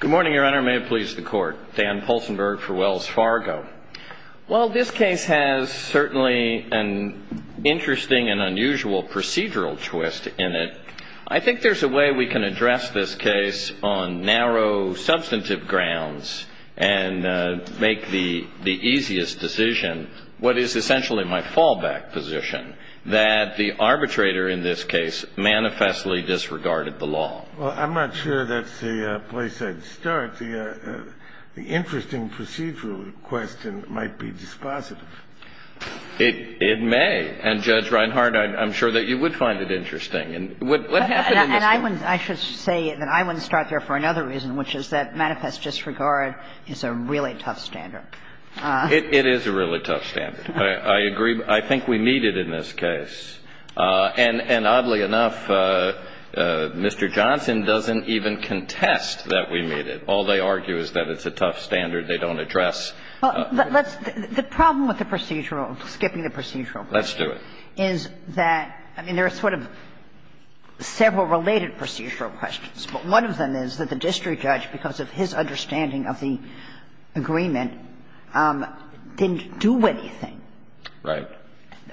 Good morning, Your Honor. May it please the Court. Dan Poulsenberg for Wells Fargo. While this case has certainly an interesting and unusual procedural twist in it, I think there's a way we can address this case on narrow, substantive grounds and make the easiest decision, what is essentially my fallback position, that the arbitrator in this case manifestly disregarded the law. Well, I'm not sure that's the place I'd start. The interesting procedural question might be dispositive. It may. And, Judge Reinhart, I'm sure that you would find it interesting. What happened in this case? And I should say that I wouldn't start there for another reason, which is that manifest disregard is a really tough standard. It is a really tough standard. I agree. I think we meet it in this case. And oddly enough, Mr. Johnson doesn't even contest that we meet it. All they argue is that it's a tough standard. They don't address it. Well, let's – the problem with the procedural, skipping the procedural question Let's do it. is that, I mean, there are sort of several related procedural questions. But one of them is that the district judge, because of his understanding of the agreement, didn't do anything. Right.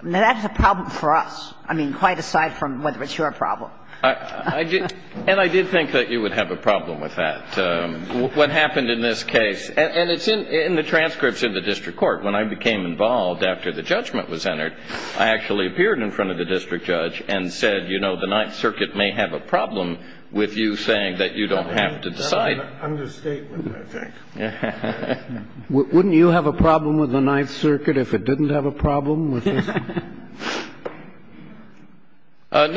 That's a problem for us. I mean, quite aside from whether it's your problem. And I did think that you would have a problem with that, what happened in this case. And it's in the transcripts in the district court. When I became involved after the judgment was entered, I actually appeared in front of the district judge and said, you know, the Ninth Circuit may have a problem with you saying that you don't have to decide. That's an understatement, I think. Wouldn't you have a problem with the Ninth Circuit if it didn't have a problem with this? I'm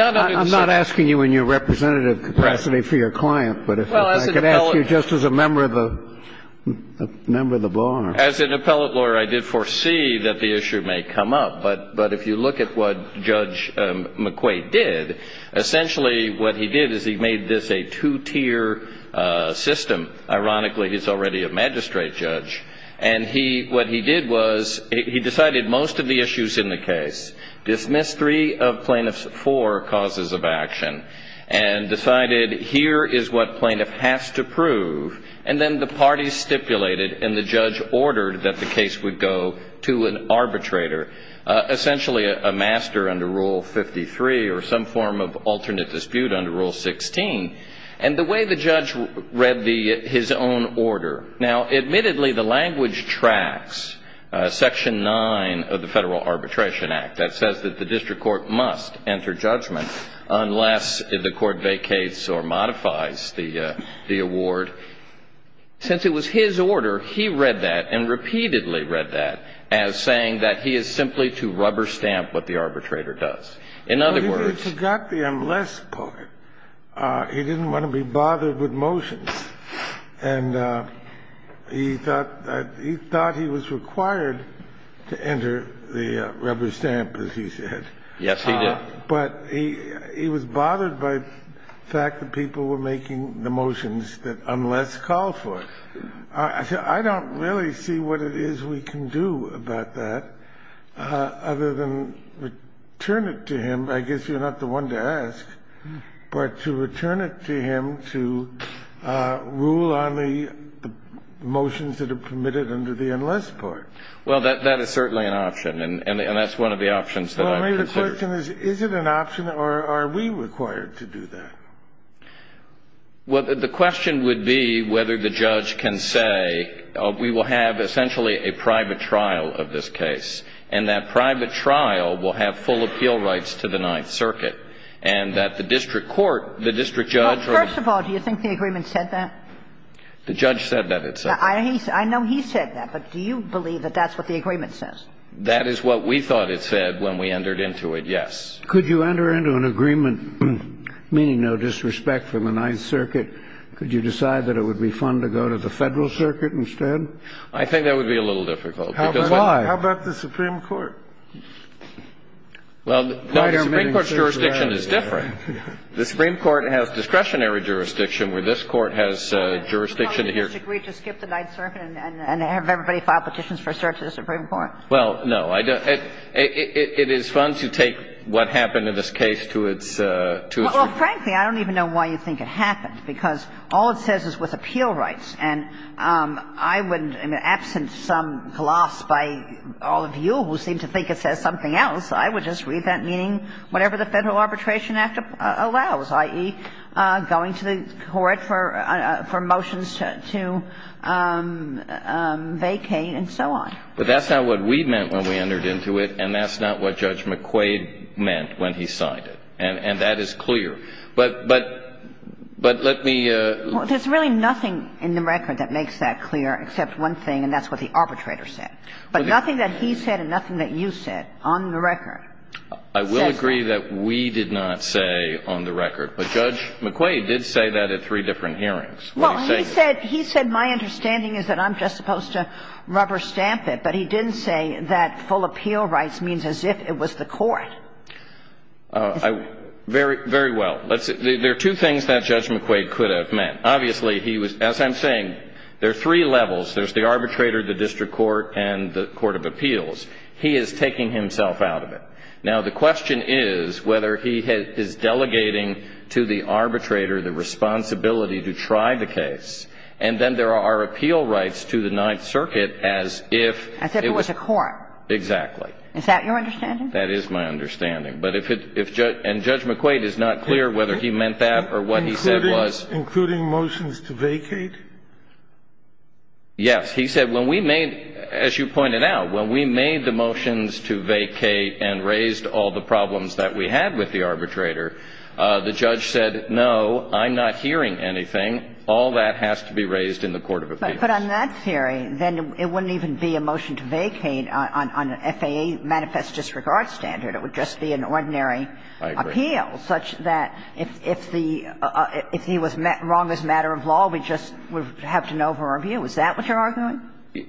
not asking you in your representative capacity for your client, but if I could ask you just as a member of the bar. As an appellate lawyer, I did foresee that the issue may come up. But if you look at what Judge McQuaid did, essentially what he did is he made this a two-tier system. Ironically, he's already a magistrate judge. And what he did was he decided most of the issues in the case, dismissed three of plaintiff's four causes of action, and decided here is what plaintiff has to prove. And then the parties stipulated and the judge ordered that the case would go to an arbitrator, essentially a master under Rule 53 or some form of alternate dispute under Rule 16, and the way the judge read his own order. Now, admittedly, the language tracks Section 9 of the Federal Arbitration Act that says that the district court must enter judgment unless the court vacates or modifies the award. Since it was his order, he read that and repeatedly read that as saying that he is simply to rubber stamp what the arbitrator does. In other words — He forgot the unless part. He didn't want to be bothered with motions. And he thought he was required to enter the rubber stamp, as he said. Yes, he did. But he was bothered by the fact that people were making the motions that unless call for it. I said I don't really see what it is we can do about that other than return it to him. I guess you're not the one to ask. But to return it to him to rule on the motions that are permitted under the unless part. Well, that is certainly an option. And that's one of the options that I've considered. Well, maybe the question is, is it an option or are we required to do that? Well, the question would be whether the judge can say we will have essentially a private trial of this case, and that private trial will have full appeal rights to the Ninth Circuit. And that the district court, the district judge — Well, first of all, do you think the agreement said that? The judge said that it said that. I know he said that. But do you believe that that's what the agreement says? That is what we thought it said when we entered into it, yes. Could you enter into an agreement meaning no disrespect from the Ninth Circuit, could you decide that it would be fun to go to the Federal Circuit instead? I think that would be a little difficult. Why? How about the Supreme Court? Well, no, the Supreme Court's jurisdiction is different. The Supreme Court has discretionary jurisdiction, where this Court has jurisdiction to hear — Well, did you agree to skip the Ninth Circuit and have everybody file petitions for search of the Supreme Court? Well, no. It is fun to take what happened in this case to its — Well, frankly, I don't even know why you think it happened, because all it says is with appeal rights. And I would — I mean, absent some gloss by all of you who seem to think it says something else, I would just read that meaning whatever the Federal Arbitration Act allows, i.e., going to the court for motions to vacate and so on. But that's not what we meant when we entered into it, and that's not what Judge McQuaid meant when he signed it. And that is clear. But let me — Well, there's really nothing in the record that makes that clear except one thing, and that's what the arbitrator said. But nothing that he said and nothing that you said on the record says that. I will agree that we did not say on the record. But Judge McQuaid did say that at three different hearings. Well, he said — he said my understanding is that I'm just supposed to rubber stamp it. But he didn't say that full appeal rights means as if it was the court. Very well. There are two things that Judge McQuaid could have meant. Obviously, he was — as I'm saying, there are three levels. There's the arbitrator, the district court, and the court of appeals. He is taking himself out of it. Now, the question is whether he is delegating to the arbitrator the responsibility to try the case, and then there are appeal rights to the Ninth Circuit as if it was a court. Exactly. Is that your understanding? That is my understanding. But if it — and Judge McQuaid is not clear whether he meant that or what he said was. Including motions to vacate? Yes. He said when we made — as you pointed out, when we made the motions to vacate and raised all the problems that we had with the arbitrator, the judge said, no, I'm not hearing anything. All that has to be raised in the court of appeals. But on that theory, then it wouldn't even be a motion to vacate on an FAA manifest disregard standard. It would just be an ordinary appeal such that if the — if he was wrong as a matter of law, we just would have to know from our view. Is that what you're arguing?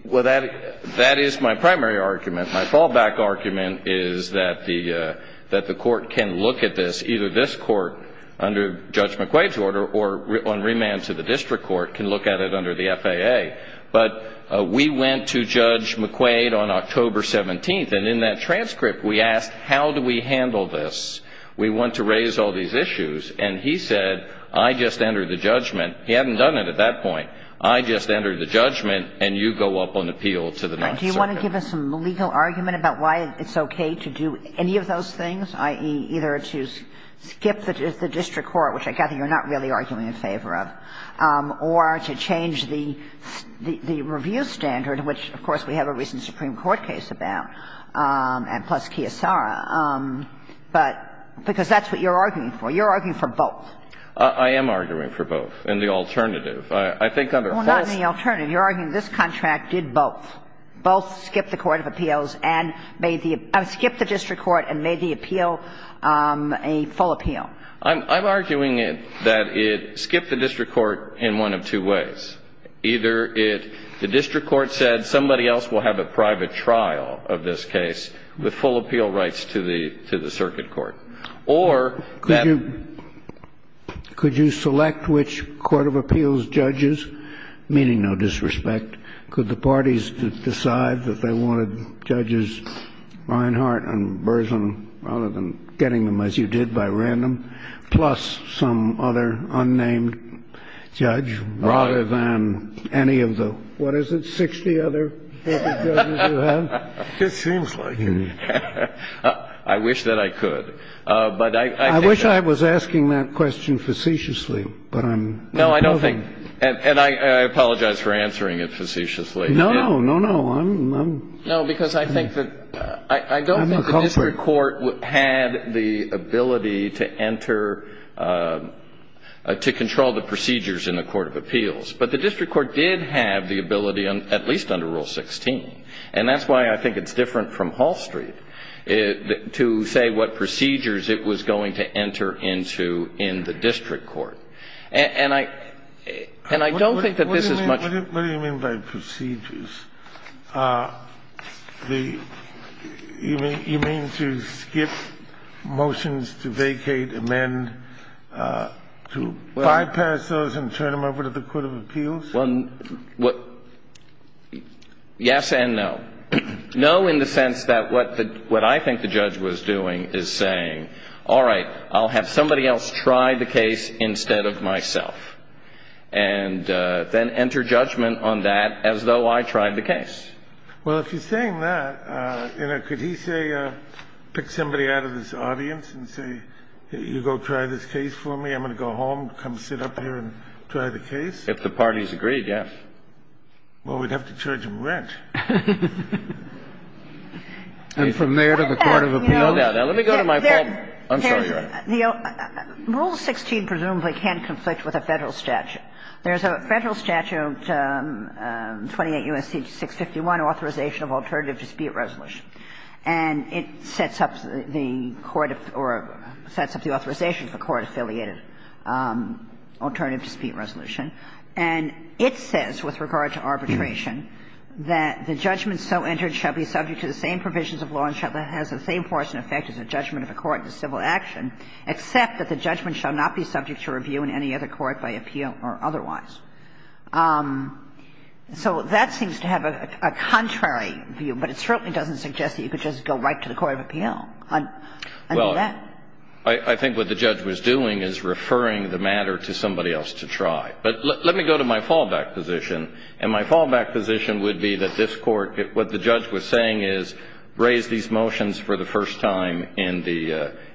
Well, that is my primary argument. My fallback argument is that the court can look at this, either this court under Judge McQuaid's order or on remand to the district court can look at it under the FAA. But we went to Judge McQuaid on October 17th, and in that transcript we asked how do we handle this. We want to raise all these issues. And he said, I just entered the judgment. He hadn't done it at that point. I just entered the judgment, and you go up on appeal to the Ninth Circuit. Do you want to give us some legal argument about why it's okay to do any of those things, i.e., either to skip the district court, which I gather you're not really arguing in favor of, or to change the review standard, which, of course, we have a recent Supreme Court case about, and plus Kiyosara. But because that's what you're arguing for. You're arguing for both. I am arguing for both, and the alternative. I think under both of them. Well, not in the alternative. You're arguing this contract did both. Both skipped the court of appeals and made the – skipped the district court and made the appeal a full appeal. I'm arguing that it skipped the district court in one of two ways. Either it – the district court said somebody else will have a private trial of this case with full appeal rights to the – to the circuit court. Or that – Could you – could you select which court of appeals judges, meaning no disrespect, could the parties decide that they wanted judges Reinhart and Burson rather than getting them, as you did, by random, plus some other unnamed judge rather than – than any of the, what is it, 60 other public judges you have? It seems like it. I wish that I could. But I think that – I wish I was asking that question facetiously, but I'm – No, I don't think – and I apologize for answering it facetiously. No, no, no. I'm – No, because I think that – I don't think the district court had the ability to enter to control the procedures in the court of appeals. But the district court did have the ability, at least under Rule 16. And that's why I think it's different from Hall Street to say what procedures it was going to enter into in the district court. And I – and I don't think that this is much – What do you mean by procedures? You mean to skip motions to vacate, amend, to bypass those and turn them over to the court of appeals? Well, yes and no. No in the sense that what I think the judge was doing is saying, all right, I'll have somebody else try the case instead of myself, and then enter judgment on that as though I tried the case. Well, if you're saying that, you know, could he say – pick somebody out of this audience and say, you go try this case for me, I'm going to go home, come sit up here and try the case? If the parties agreed, yes. Well, we'd have to charge him rent. And from there to the court of appeals? No, no, no. Let me go to my point. I'm sorry, Your Honor. Rule 16 presumably can conflict with a Federal statute. There's a Federal statute, 28 U.S.C. 651, Authorization of Alternative Dispute Resolution, and it sets up the court or sets up the authorization for court-affiliated alternative dispute resolution. And it says with regard to arbitration that the judgment so entered shall be subject to the same provisions of law and shall have the same force and effect as a judgment of a court in a civil action, except that the judgment shall not be subject to review in any other court by appeal or otherwise. So that seems to have a contrary view, but it certainly doesn't suggest that you could just go right to the court of appeal on that. Well, I think what the judge was doing is referring the matter to somebody else to try. But let me go to my fallback position, and my fallback position would be that this time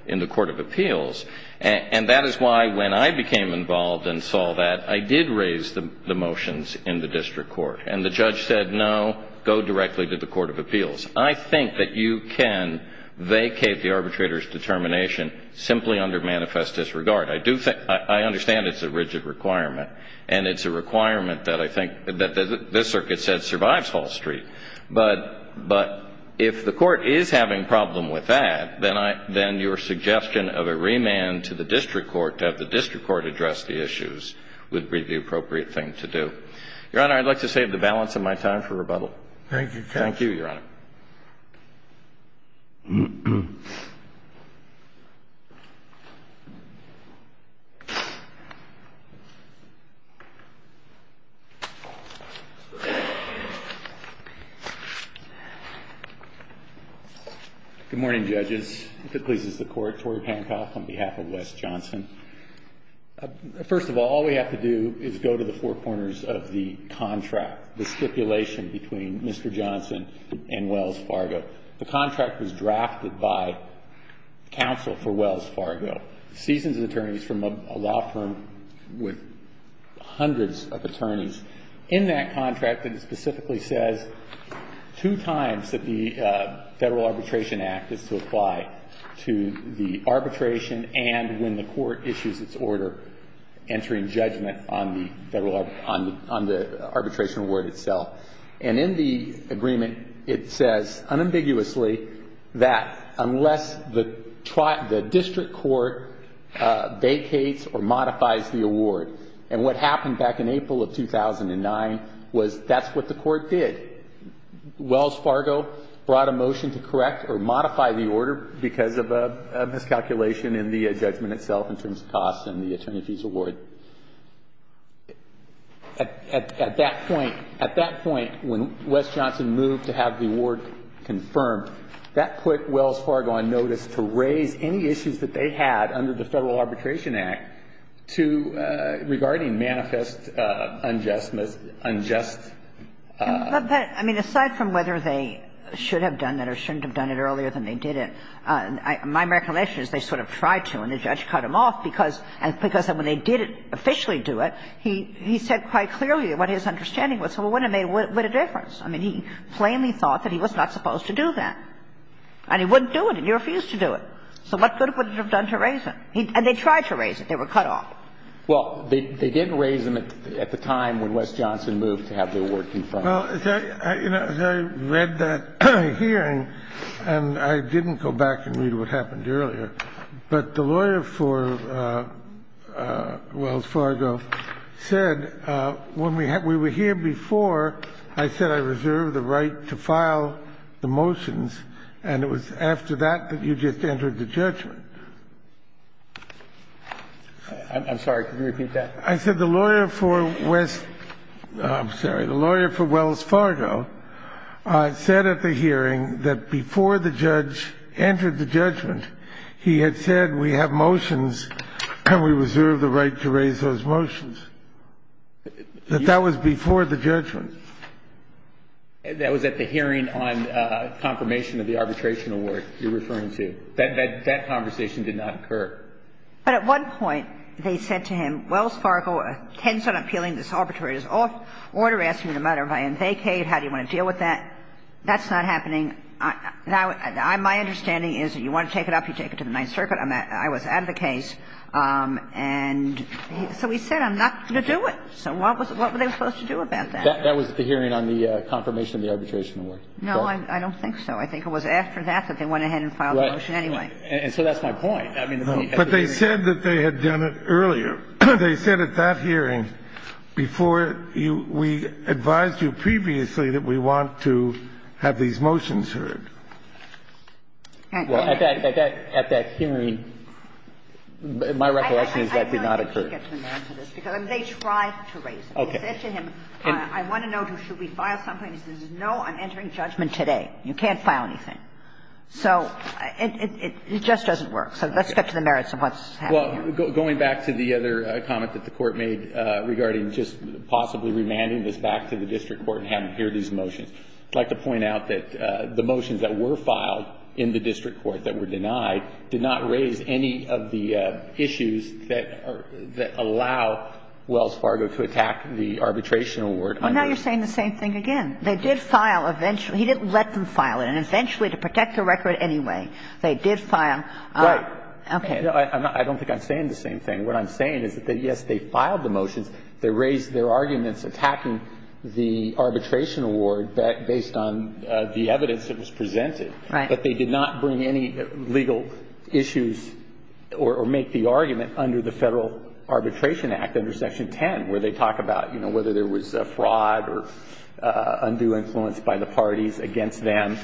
in the court of appeals, and that is why, when I became involved and saw that, I did raise the motions in the district court. And the judge said, no, go directly to the court of appeals. I think that you can vacate the arbitrator's determination simply under manifest disregard. I do think ñ I understand it's a rigid requirement, and it's a requirement that I think ñ that this circuit said survives Hall Street. But if the court is having a problem with that, then your suggestion of a remand to the district court to have the district court address the issues would be the appropriate thing to do. Your Honor, I'd like to save the balance of my time for rebuttal. Thank you, counsel. Thank you, Your Honor. Good morning, judges. If it pleases the Court, Tory Pankow on behalf of Wes Johnson. First of all, all we have to do is go to the four corners of the contract, the stipulation between Mr. Johnson and Wells Fargo. The contract was drafted by counsel for Wells Fargo, seasoned attorneys from a law firm with hundreds of attorneys. In that contract, it specifically says two times that the Federal Arbitration Act is to apply to the arbitration and when the court issues its order entering judgment on the arbitration award itself. And in the agreement, it says unambiguously that unless the district court vacates or modifies the award. And what happened back in April of 2009 was that's what the court did. Wells Fargo brought a motion to correct or modify the order because of a miscalculation in the judgment itself in terms of cost and the attorneys' award. At that point, when Wes Johnson moved to have the award confirmed, that put Wells Fargo on notice to raise any issues that they had under the Federal Arbitration Act to regarding manifest unjustness, unjust. But, I mean, aside from whether they should have done that or shouldn't have done it earlier than they did it, my recollection is they sort of tried to and the judge cut him off because when they did it, officially do it, he said quite clearly what his understanding was, so what would have made a difference? I mean, he plainly thought that he was not supposed to do that. And he wouldn't do it and he refused to do it. So what good would it have done to raise him? And they tried to raise him. They were cut off. Well, they didn't raise him at the time when Wes Johnson moved to have the award confirmed. Well, as I read that hearing and I didn't go back and read what happened earlier, but the lawyer for Wells Fargo said when we were here before, I said I reserved the right to file the motions. And it was after that that you just entered the judgment. I'm sorry. Could you repeat that? I said the lawyer for Wes – I'm sorry, the lawyer for Wells Fargo said at the hearing that before the judge entered the judgment, he had said we have motions and we reserve the right to raise those motions, that that was before the judgment. That was at the hearing on confirmation of the arbitration award you're referring to. That conversation did not occur. But at one point, they said to him, Wells Fargo tends on appealing this arbitrary order, asking me no matter if I am vacated, how do you want to deal with that? That's not happening. Now, my understanding is you want to take it up, you take it to the Ninth Circuit. I was out of the case. And so he said I'm not going to do it. So what were they supposed to do about that? That was at the hearing on the confirmation of the arbitration award. No, I don't think so. I think it was after that that they went ahead and filed the motion anyway. And so that's my point. But they said that they had done it earlier. They said at that hearing before we advised you previously that we want to have these motions heard. Well, at that hearing, my recollection is that did not occur. I mean, they tried to raise it. They said to him, I want to know, should we file something? He said, no, I'm entering judgment today. You can't file anything. So it just doesn't work. So let's get to the merits of what's happening. Well, going back to the other comment that the Court made regarding just possibly remanding this back to the district court and having to hear these motions, I'd like to point out that the motions that were filed in the district court that were Wells Fargo to attack the arbitration award. Well, now you're saying the same thing again. They did file eventually. He didn't let them file it. And eventually, to protect the record anyway, they did file. Right. Okay. No, I don't think I'm saying the same thing. What I'm saying is that, yes, they filed the motions. They raised their arguments attacking the arbitration award based on the evidence that was presented. Right. But they did not bring any legal issues or make the argument under the Federal Arbitration Act under Section 10 where they talk about, you know, whether there was fraud or undue influence by the parties against them.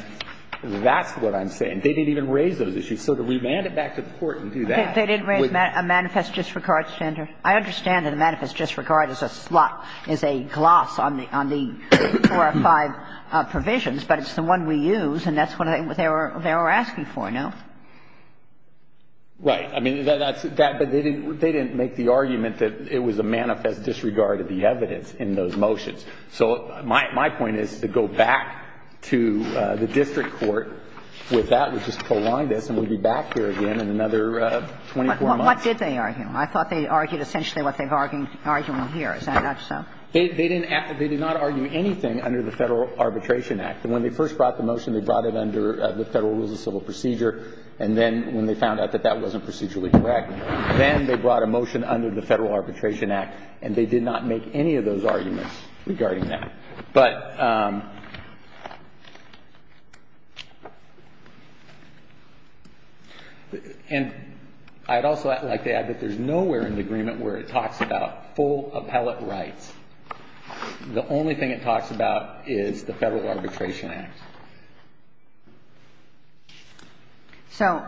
That's what I'm saying. They didn't even raise those issues. So to remand it back to the Court and do that. They didn't raise a manifest disregard standard. I understand that a manifest disregard is a slot, is a gloss on the four or five provisions, but it's the one we use, and that's what they were asking for, no? Right. I mean, that's that. But they didn't make the argument that it was a manifest disregard of the evidence in those motions. So my point is to go back to the district court with that and just co-align this, and we'll be back here again in another 24 months. What did they argue? I thought they argued essentially what they're arguing here. Is that not so? They did not argue anything under the Federal Arbitration Act. When they first brought the motion, they brought it under the Federal Rules of Civil Procedure, and then when they found out that that wasn't procedurally correct, then they brought a motion under the Federal Arbitration Act, and they did not make any of those arguments regarding that. But I'd also like to add that there's nowhere in the agreement where it talks about full appellate rights. The only thing it talks about is the Federal Arbitration Act. So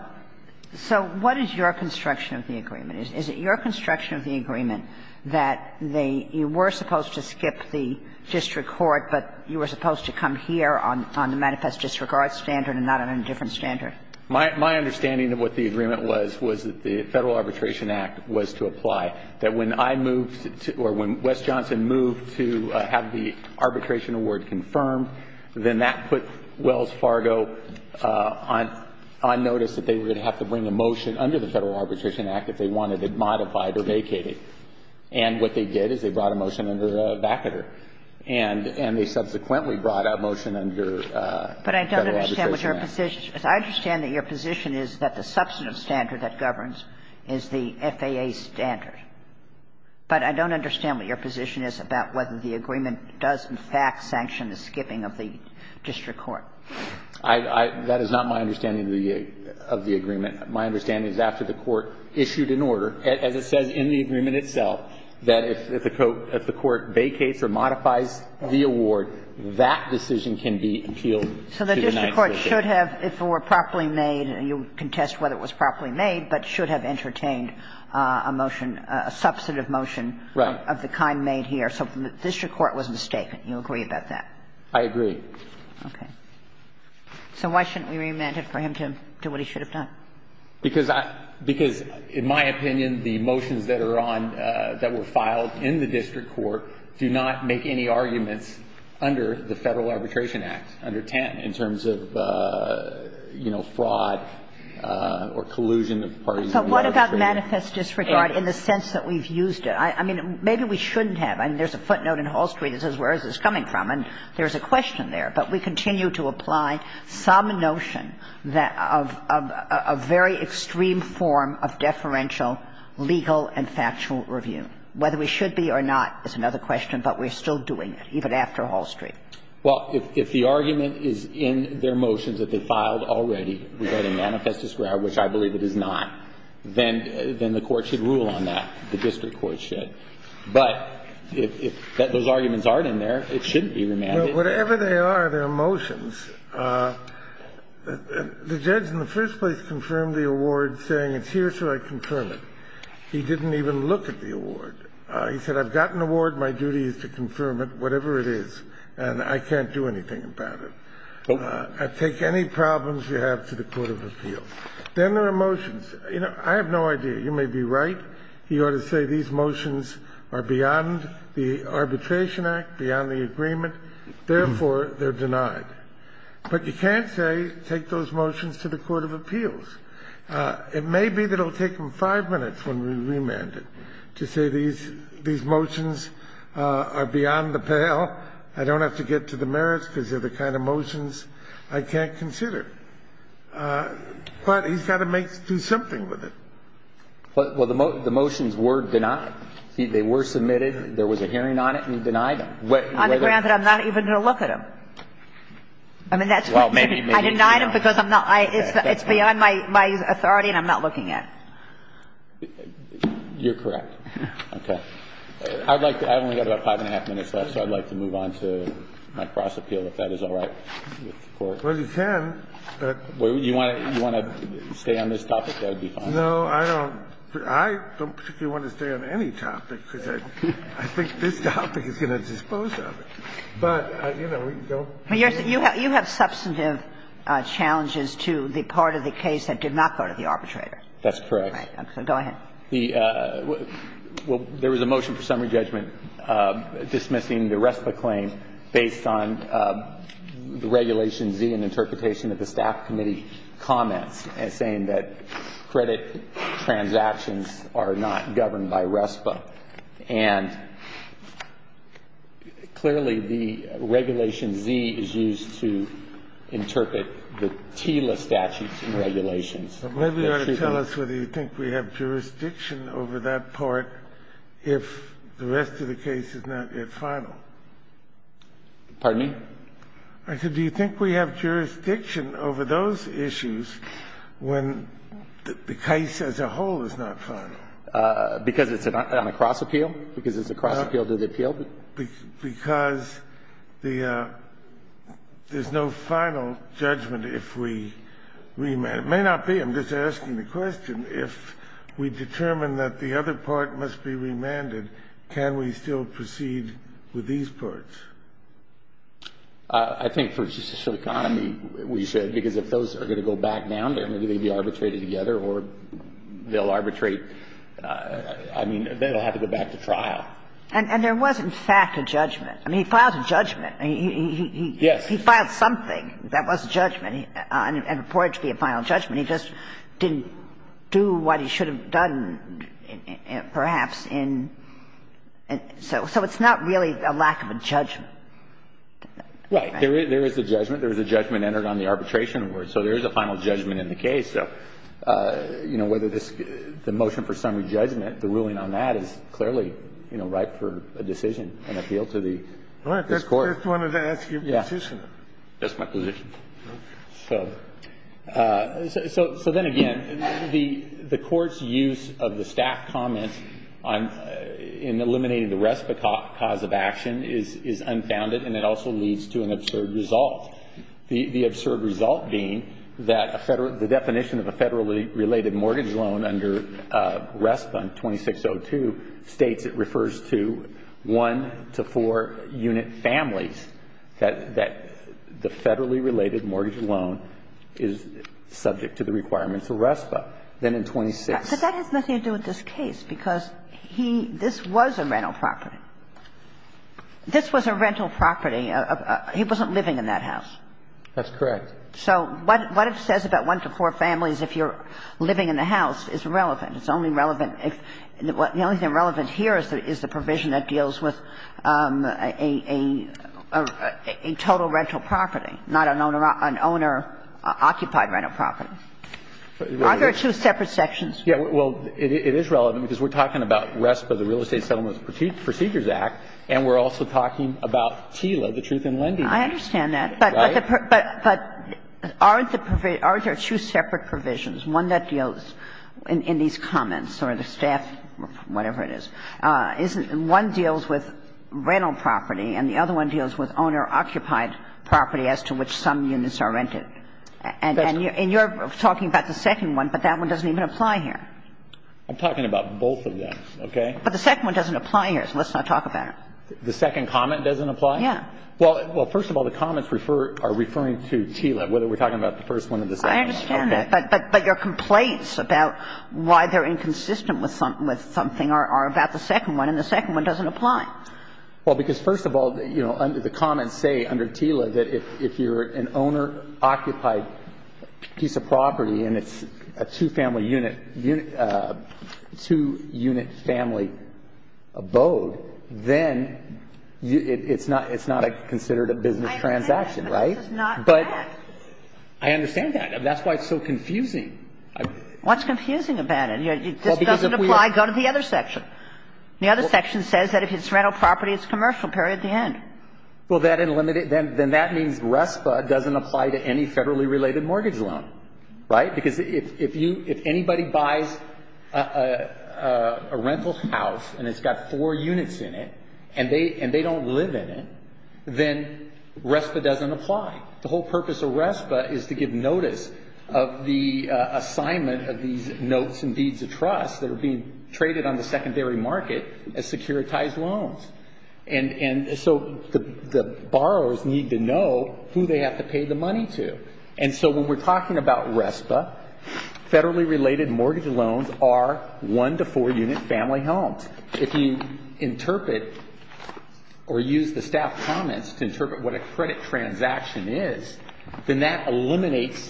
what is your construction of the agreement? Is it your construction of the agreement that they were supposed to skip the district court, but you were supposed to come here on the manifest disregard standard and not on a different standard? My understanding of what the agreement was was that the Federal Arbitration Act was to apply, that when I moved to or when Wes Johnson moved to have the arbitration award confirmed, then that put Wells Fargo on notice that they would have to bring a motion under the Federal Arbitration Act if they wanted it modified or vacated. And what they did is they brought a motion under the vacater, and they subsequently brought a motion under the Federal Arbitration Act. But I don't understand what your position is. I understand that your position is that the substantive standard that governs is the FAA standard, but I don't understand what your position is about whether the agreement does in fact sanction the skipping of the district court. I don't know. That is not my understanding of the agreement. My understanding is after the court issued an order, as it says in the agreement itself, that if the court vacates or modifies the award, that decision can be appealed to the ninth circuit. So the district court should have, if it were properly made, and you can test whether it was properly made, but should have entertained a motion, a substantive motion of the kind made here. So the district court was mistaken. Do you agree about that? I agree. Okay. So why shouldn't we remand it for him to do what he should have done? Because I – because in my opinion, the motions that are on – that were filed in the district court do not make any arguments under the Federal Arbitration Act, under 10, in terms of, you know, fraud or collusion of parties in the arbitration agreement. But what about manifest disregard in the sense that we've used it? I mean, maybe we shouldn't have. I mean, there's a footnote in Hall Street that says where is this coming from. And there's a question there. But we continue to apply some notion that – of a very extreme form of deferential legal and factual review. Whether we should be or not is another question, but we're still doing it, even after Hall Street. Well, if the argument is in their motions that they filed already regarding manifest disregard, which I believe it is not, then the court should rule on that. The district court should. But if those arguments aren't in there, it shouldn't be remanded. Whatever they are, they're motions. The judge in the first place confirmed the award, saying it's here, so I confirm it. He didn't even look at the award. He said, I've got an award. My duty is to confirm it, whatever it is. And I can't do anything about it. I take any problems you have to the court of appeals. Then there are motions. You know, I have no idea. You may be right. You ought to say these motions are beyond the Arbitration Act, beyond the agreement. Therefore, they're denied. But you can't say, take those motions to the court of appeals. It may be that it will take them five minutes when we remand it to say these motions are beyond the pale. I don't have to get to the merits, because they're the kind of motions I can't consider. But he's got to do something with it. Well, the motions were denied. They were submitted. There was a hearing on it, and he denied them. On the grounds that I'm not even going to look at them. I mean, that's what I'm saying. I denied them because I'm not – it's beyond my authority, and I'm not looking at them. You're correct. Okay. I'd like to – I've only got about five and a half minutes left, so I'd like to move on to my cross-appeal, if that is all right with the Court. Well, you can. You want to stay on this topic? That would be fine. No, I don't. I don't particularly want to stay on any topic, because I think this topic is going to dispose of it. But, you know, we can go. You have substantive challenges to the part of the case that did not go to the arbitrator. That's correct. Okay. Go ahead. The – well, there was a motion for summary judgment dismissing the rest of the claim based on the Regulation Z and interpretation of the staff committee comments saying that credit transactions are not governed by RESPA. And clearly, the Regulation Z is used to interpret the TILA statutes and regulations. But maybe you ought to tell us whether you think we have jurisdiction over that part if the rest of the case is not yet final. Pardon me? I said, do you think we have jurisdiction over those issues when the case as a whole is not final? Because it's on a cross appeal? Because it's a cross appeal to the appeal? Because the – there's no final judgment if we remand. It may not be. I'm just asking the question. If we determine that the other part must be remanded, can we still proceed with these parts? I think for judicial economy, we should, because if those are going to go back down there, maybe they'd be arbitrated together or they'll arbitrate – I mean, they'll have to go back to trial. And there was, in fact, a judgment. I mean, he filed a judgment. Yes. He filed something that was a judgment and reported to be a final judgment. He just didn't do what he should have done, perhaps, in – so it's not really a lack of judgment. Right. There is a judgment. There is a judgment entered on the arbitration award. So there is a final judgment in the case. So, you know, whether this – the motion for summary judgment, the ruling on that is clearly, you know, ripe for a decision, an appeal to the – this Court. I just wanted to ask your position. That's my position. Okay. So – so then again, the Court's use of the staff comments on – in eliminating the RESPA cause of action is unfounded, and it also leads to an absurd result. The absurd result being that a – the definition of a federally related mortgage loan under RESPA in 2602 states it refers to one to four-unit families, that the federally related mortgage loan is subject to the requirements of RESPA. Then in 26 – And that's the reason you're saying it's unfounded. It's because he – this was a rental property. This was a rental property. He wasn't living in that house. That's correct. So what it says about one to four families if you're living in the house is relevant. It's only relevant if – the only thing relevant here is the – is the provision that deals with a total rental property, not an owner-occupied rental property. Aren't there two separate sections? Yeah, well, it is relevant because we're talking about RESPA, the Real Estate Settlements and Procedures Act, and we're also talking about TILA, the Truth in Lending Act. I understand that. Right? But aren't the – aren't there two separate provisions? One that deals – in these comments, or the staff – whatever it is – isn't – one deals with rental property, and the other one deals with owner-occupied property as to which some units are rented. That's correct. And you're talking about the second one, but that one doesn't even apply here. I'm talking about both of them, okay? But the second one doesn't apply here, so let's not talk about it. The second comment doesn't apply? Yeah. Well, first of all, the comments refer – are referring to TILA, whether we're talking about the first one or the second one. I understand that, but your complaints about why they're inconsistent with something are about the second one, and the second one doesn't apply. Well, because first of all, you know, the comments say under TILA that if you're renting an owner-occupied piece of property and it's a two-family unit – two-unit family abode, then it's not – it's not considered a business transaction, right? But this is not that. I understand that. That's why it's so confusing. What's confusing about it? This doesn't apply. Go to the other section. The other section says that if it's rental property, it's commercial, period, the end. Well, that – then that means RESPA doesn't apply to any federally-related mortgage loan, right? Because if you – if anybody buys a rental house and it's got four units in it and they – and they don't live in it, then RESPA doesn't apply. The whole purpose of RESPA is to give notice of the assignment of these notes and deeds of trust that are being traded on the secondary market as securitized loans. And so the borrowers need to know who they have to pay the money to. And so when we're talking about RESPA, federally-related mortgage loans are one-to-four-unit family homes. If you interpret or use the staff comments to interpret what a credit transaction is, then that eliminates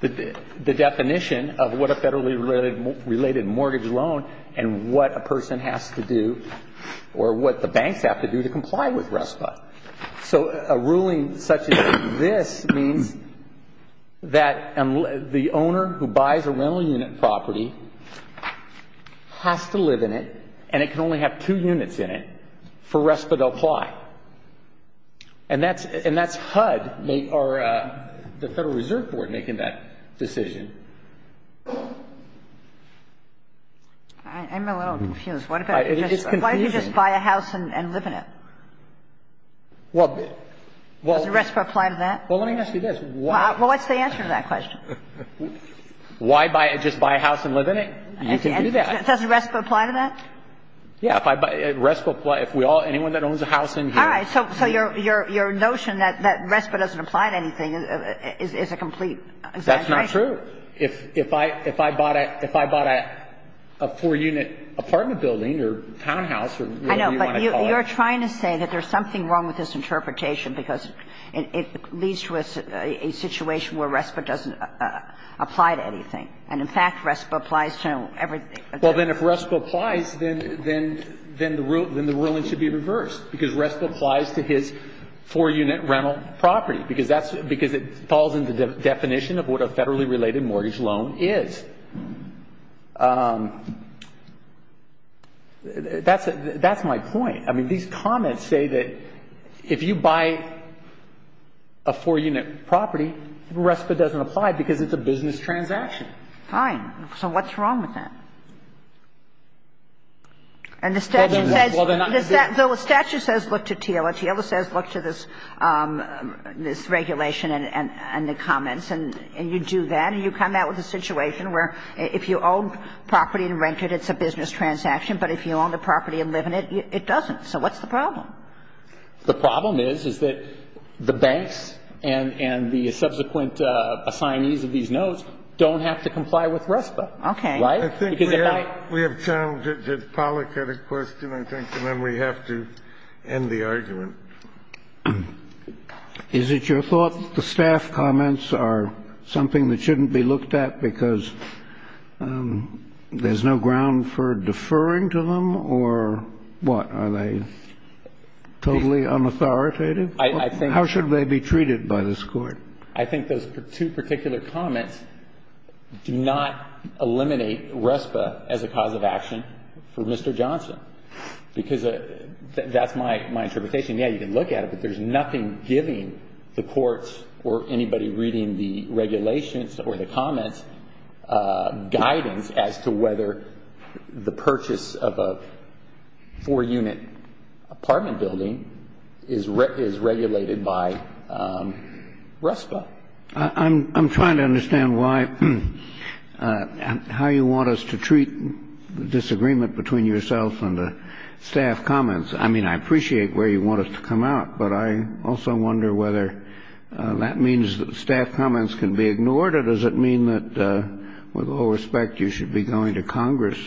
the definition of what a federally-related mortgage loan and what a person has to do or what the banks have to do to comply with RESPA. So a ruling such as this means that the owner who buys a rental unit property has to live in it and it can only have two units in it for RESPA to apply. And that's HUD or the Federal Reserve Board making that decision. I'm a little confused. It is confusing. Why do you just buy a house and live in it? Does RESPA apply to that? Well, let me ask you this. Well, what's the answer to that question? Why buy – just buy a house and live in it? You can do that. Doesn't RESPA apply to that? Yeah. RESPA – if we all – anyone that owns a house in here – All right. So your notion that RESPA doesn't apply to anything is a complete exaggeration. That's not true. If I bought a four-unit apartment building or townhouse or whatever you want to call it. I know. But you're trying to say that there's something wrong with this interpretation because it leads to a situation where RESPA doesn't apply to anything. And, in fact, RESPA applies to everything. Well, then if RESPA applies, then the ruling should be reversed because RESPA applies to his four-unit rental property because that's – because it falls in the definition of what a federally related mortgage loan is. That's my point. I mean, these comments say that if you buy a four-unit property, RESPA doesn't apply because it's a business transaction. Fine. So what's wrong with that? And the statute says – Well, then – The statute says look to TILA. TILA says look to this regulation and the comments. And you do that, and you come out with a situation where if you own property and rent it, it's a business transaction. But if you own the property and live in it, it doesn't. So what's the problem? The problem is, is that the banks and the subsequent assignees of these notes don't have to comply with RESPA. Okay. Right? Because if I – I think we have challenged it. Pollock had a question. I think then we have to end the argument. Is it your thought that the staff comments are something that shouldn't be looked at because there's no ground for deferring to them? Or what? Are they totally unauthoritative? I think – How should they be treated by this Court? I think those two particular comments do not eliminate RESPA as a cause of action for Mr. Johnson. Because that's my interpretation. Yeah, you can look at it, but there's nothing giving the courts or anybody reading the regulations or the comments guidance as to whether the purchase of a four-unit apartment building is regulated by RESPA. I'm trying to understand why – how you want us to treat the disagreement between yourself and the staff comments. I mean, I appreciate where you want it to come out, but I also wonder whether that means that the staff comments can be ignored or does it mean that, with all respect, you should be going to Congress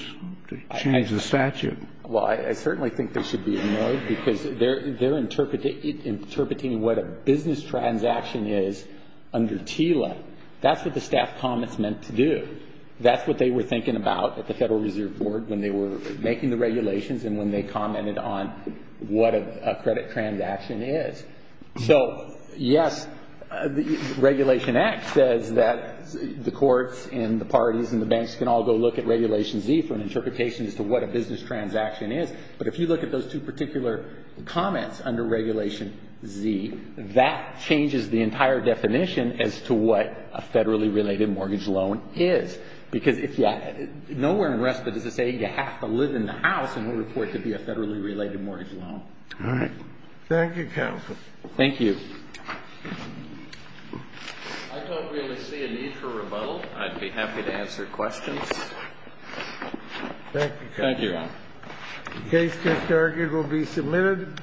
to change the statute? Well, I certainly think they should be ignored because they're interpreting what a business transaction is under TILA. That's what the staff comments meant to do. That's what they were thinking about at the Federal Reserve Board when they were making the regulations and when they commented on what a credit transaction is. So, yes, Regulation X says that the courts and the parties and the banks can all go look at Regulation Z for an interpretation as to what a business transaction is. But if you look at those two particular comments under Regulation Z, that changes the entire definition as to what a federally related mortgage loan is. Because nowhere in Respite does it say you have to live in the house in order for it to be a federally related mortgage loan. All right. Thank you, counsel. Thank you. I don't really see a need for rebuttal. I'd be happy to answer questions. Thank you, counsel. Thank you, Ron. The case to start will be submitted.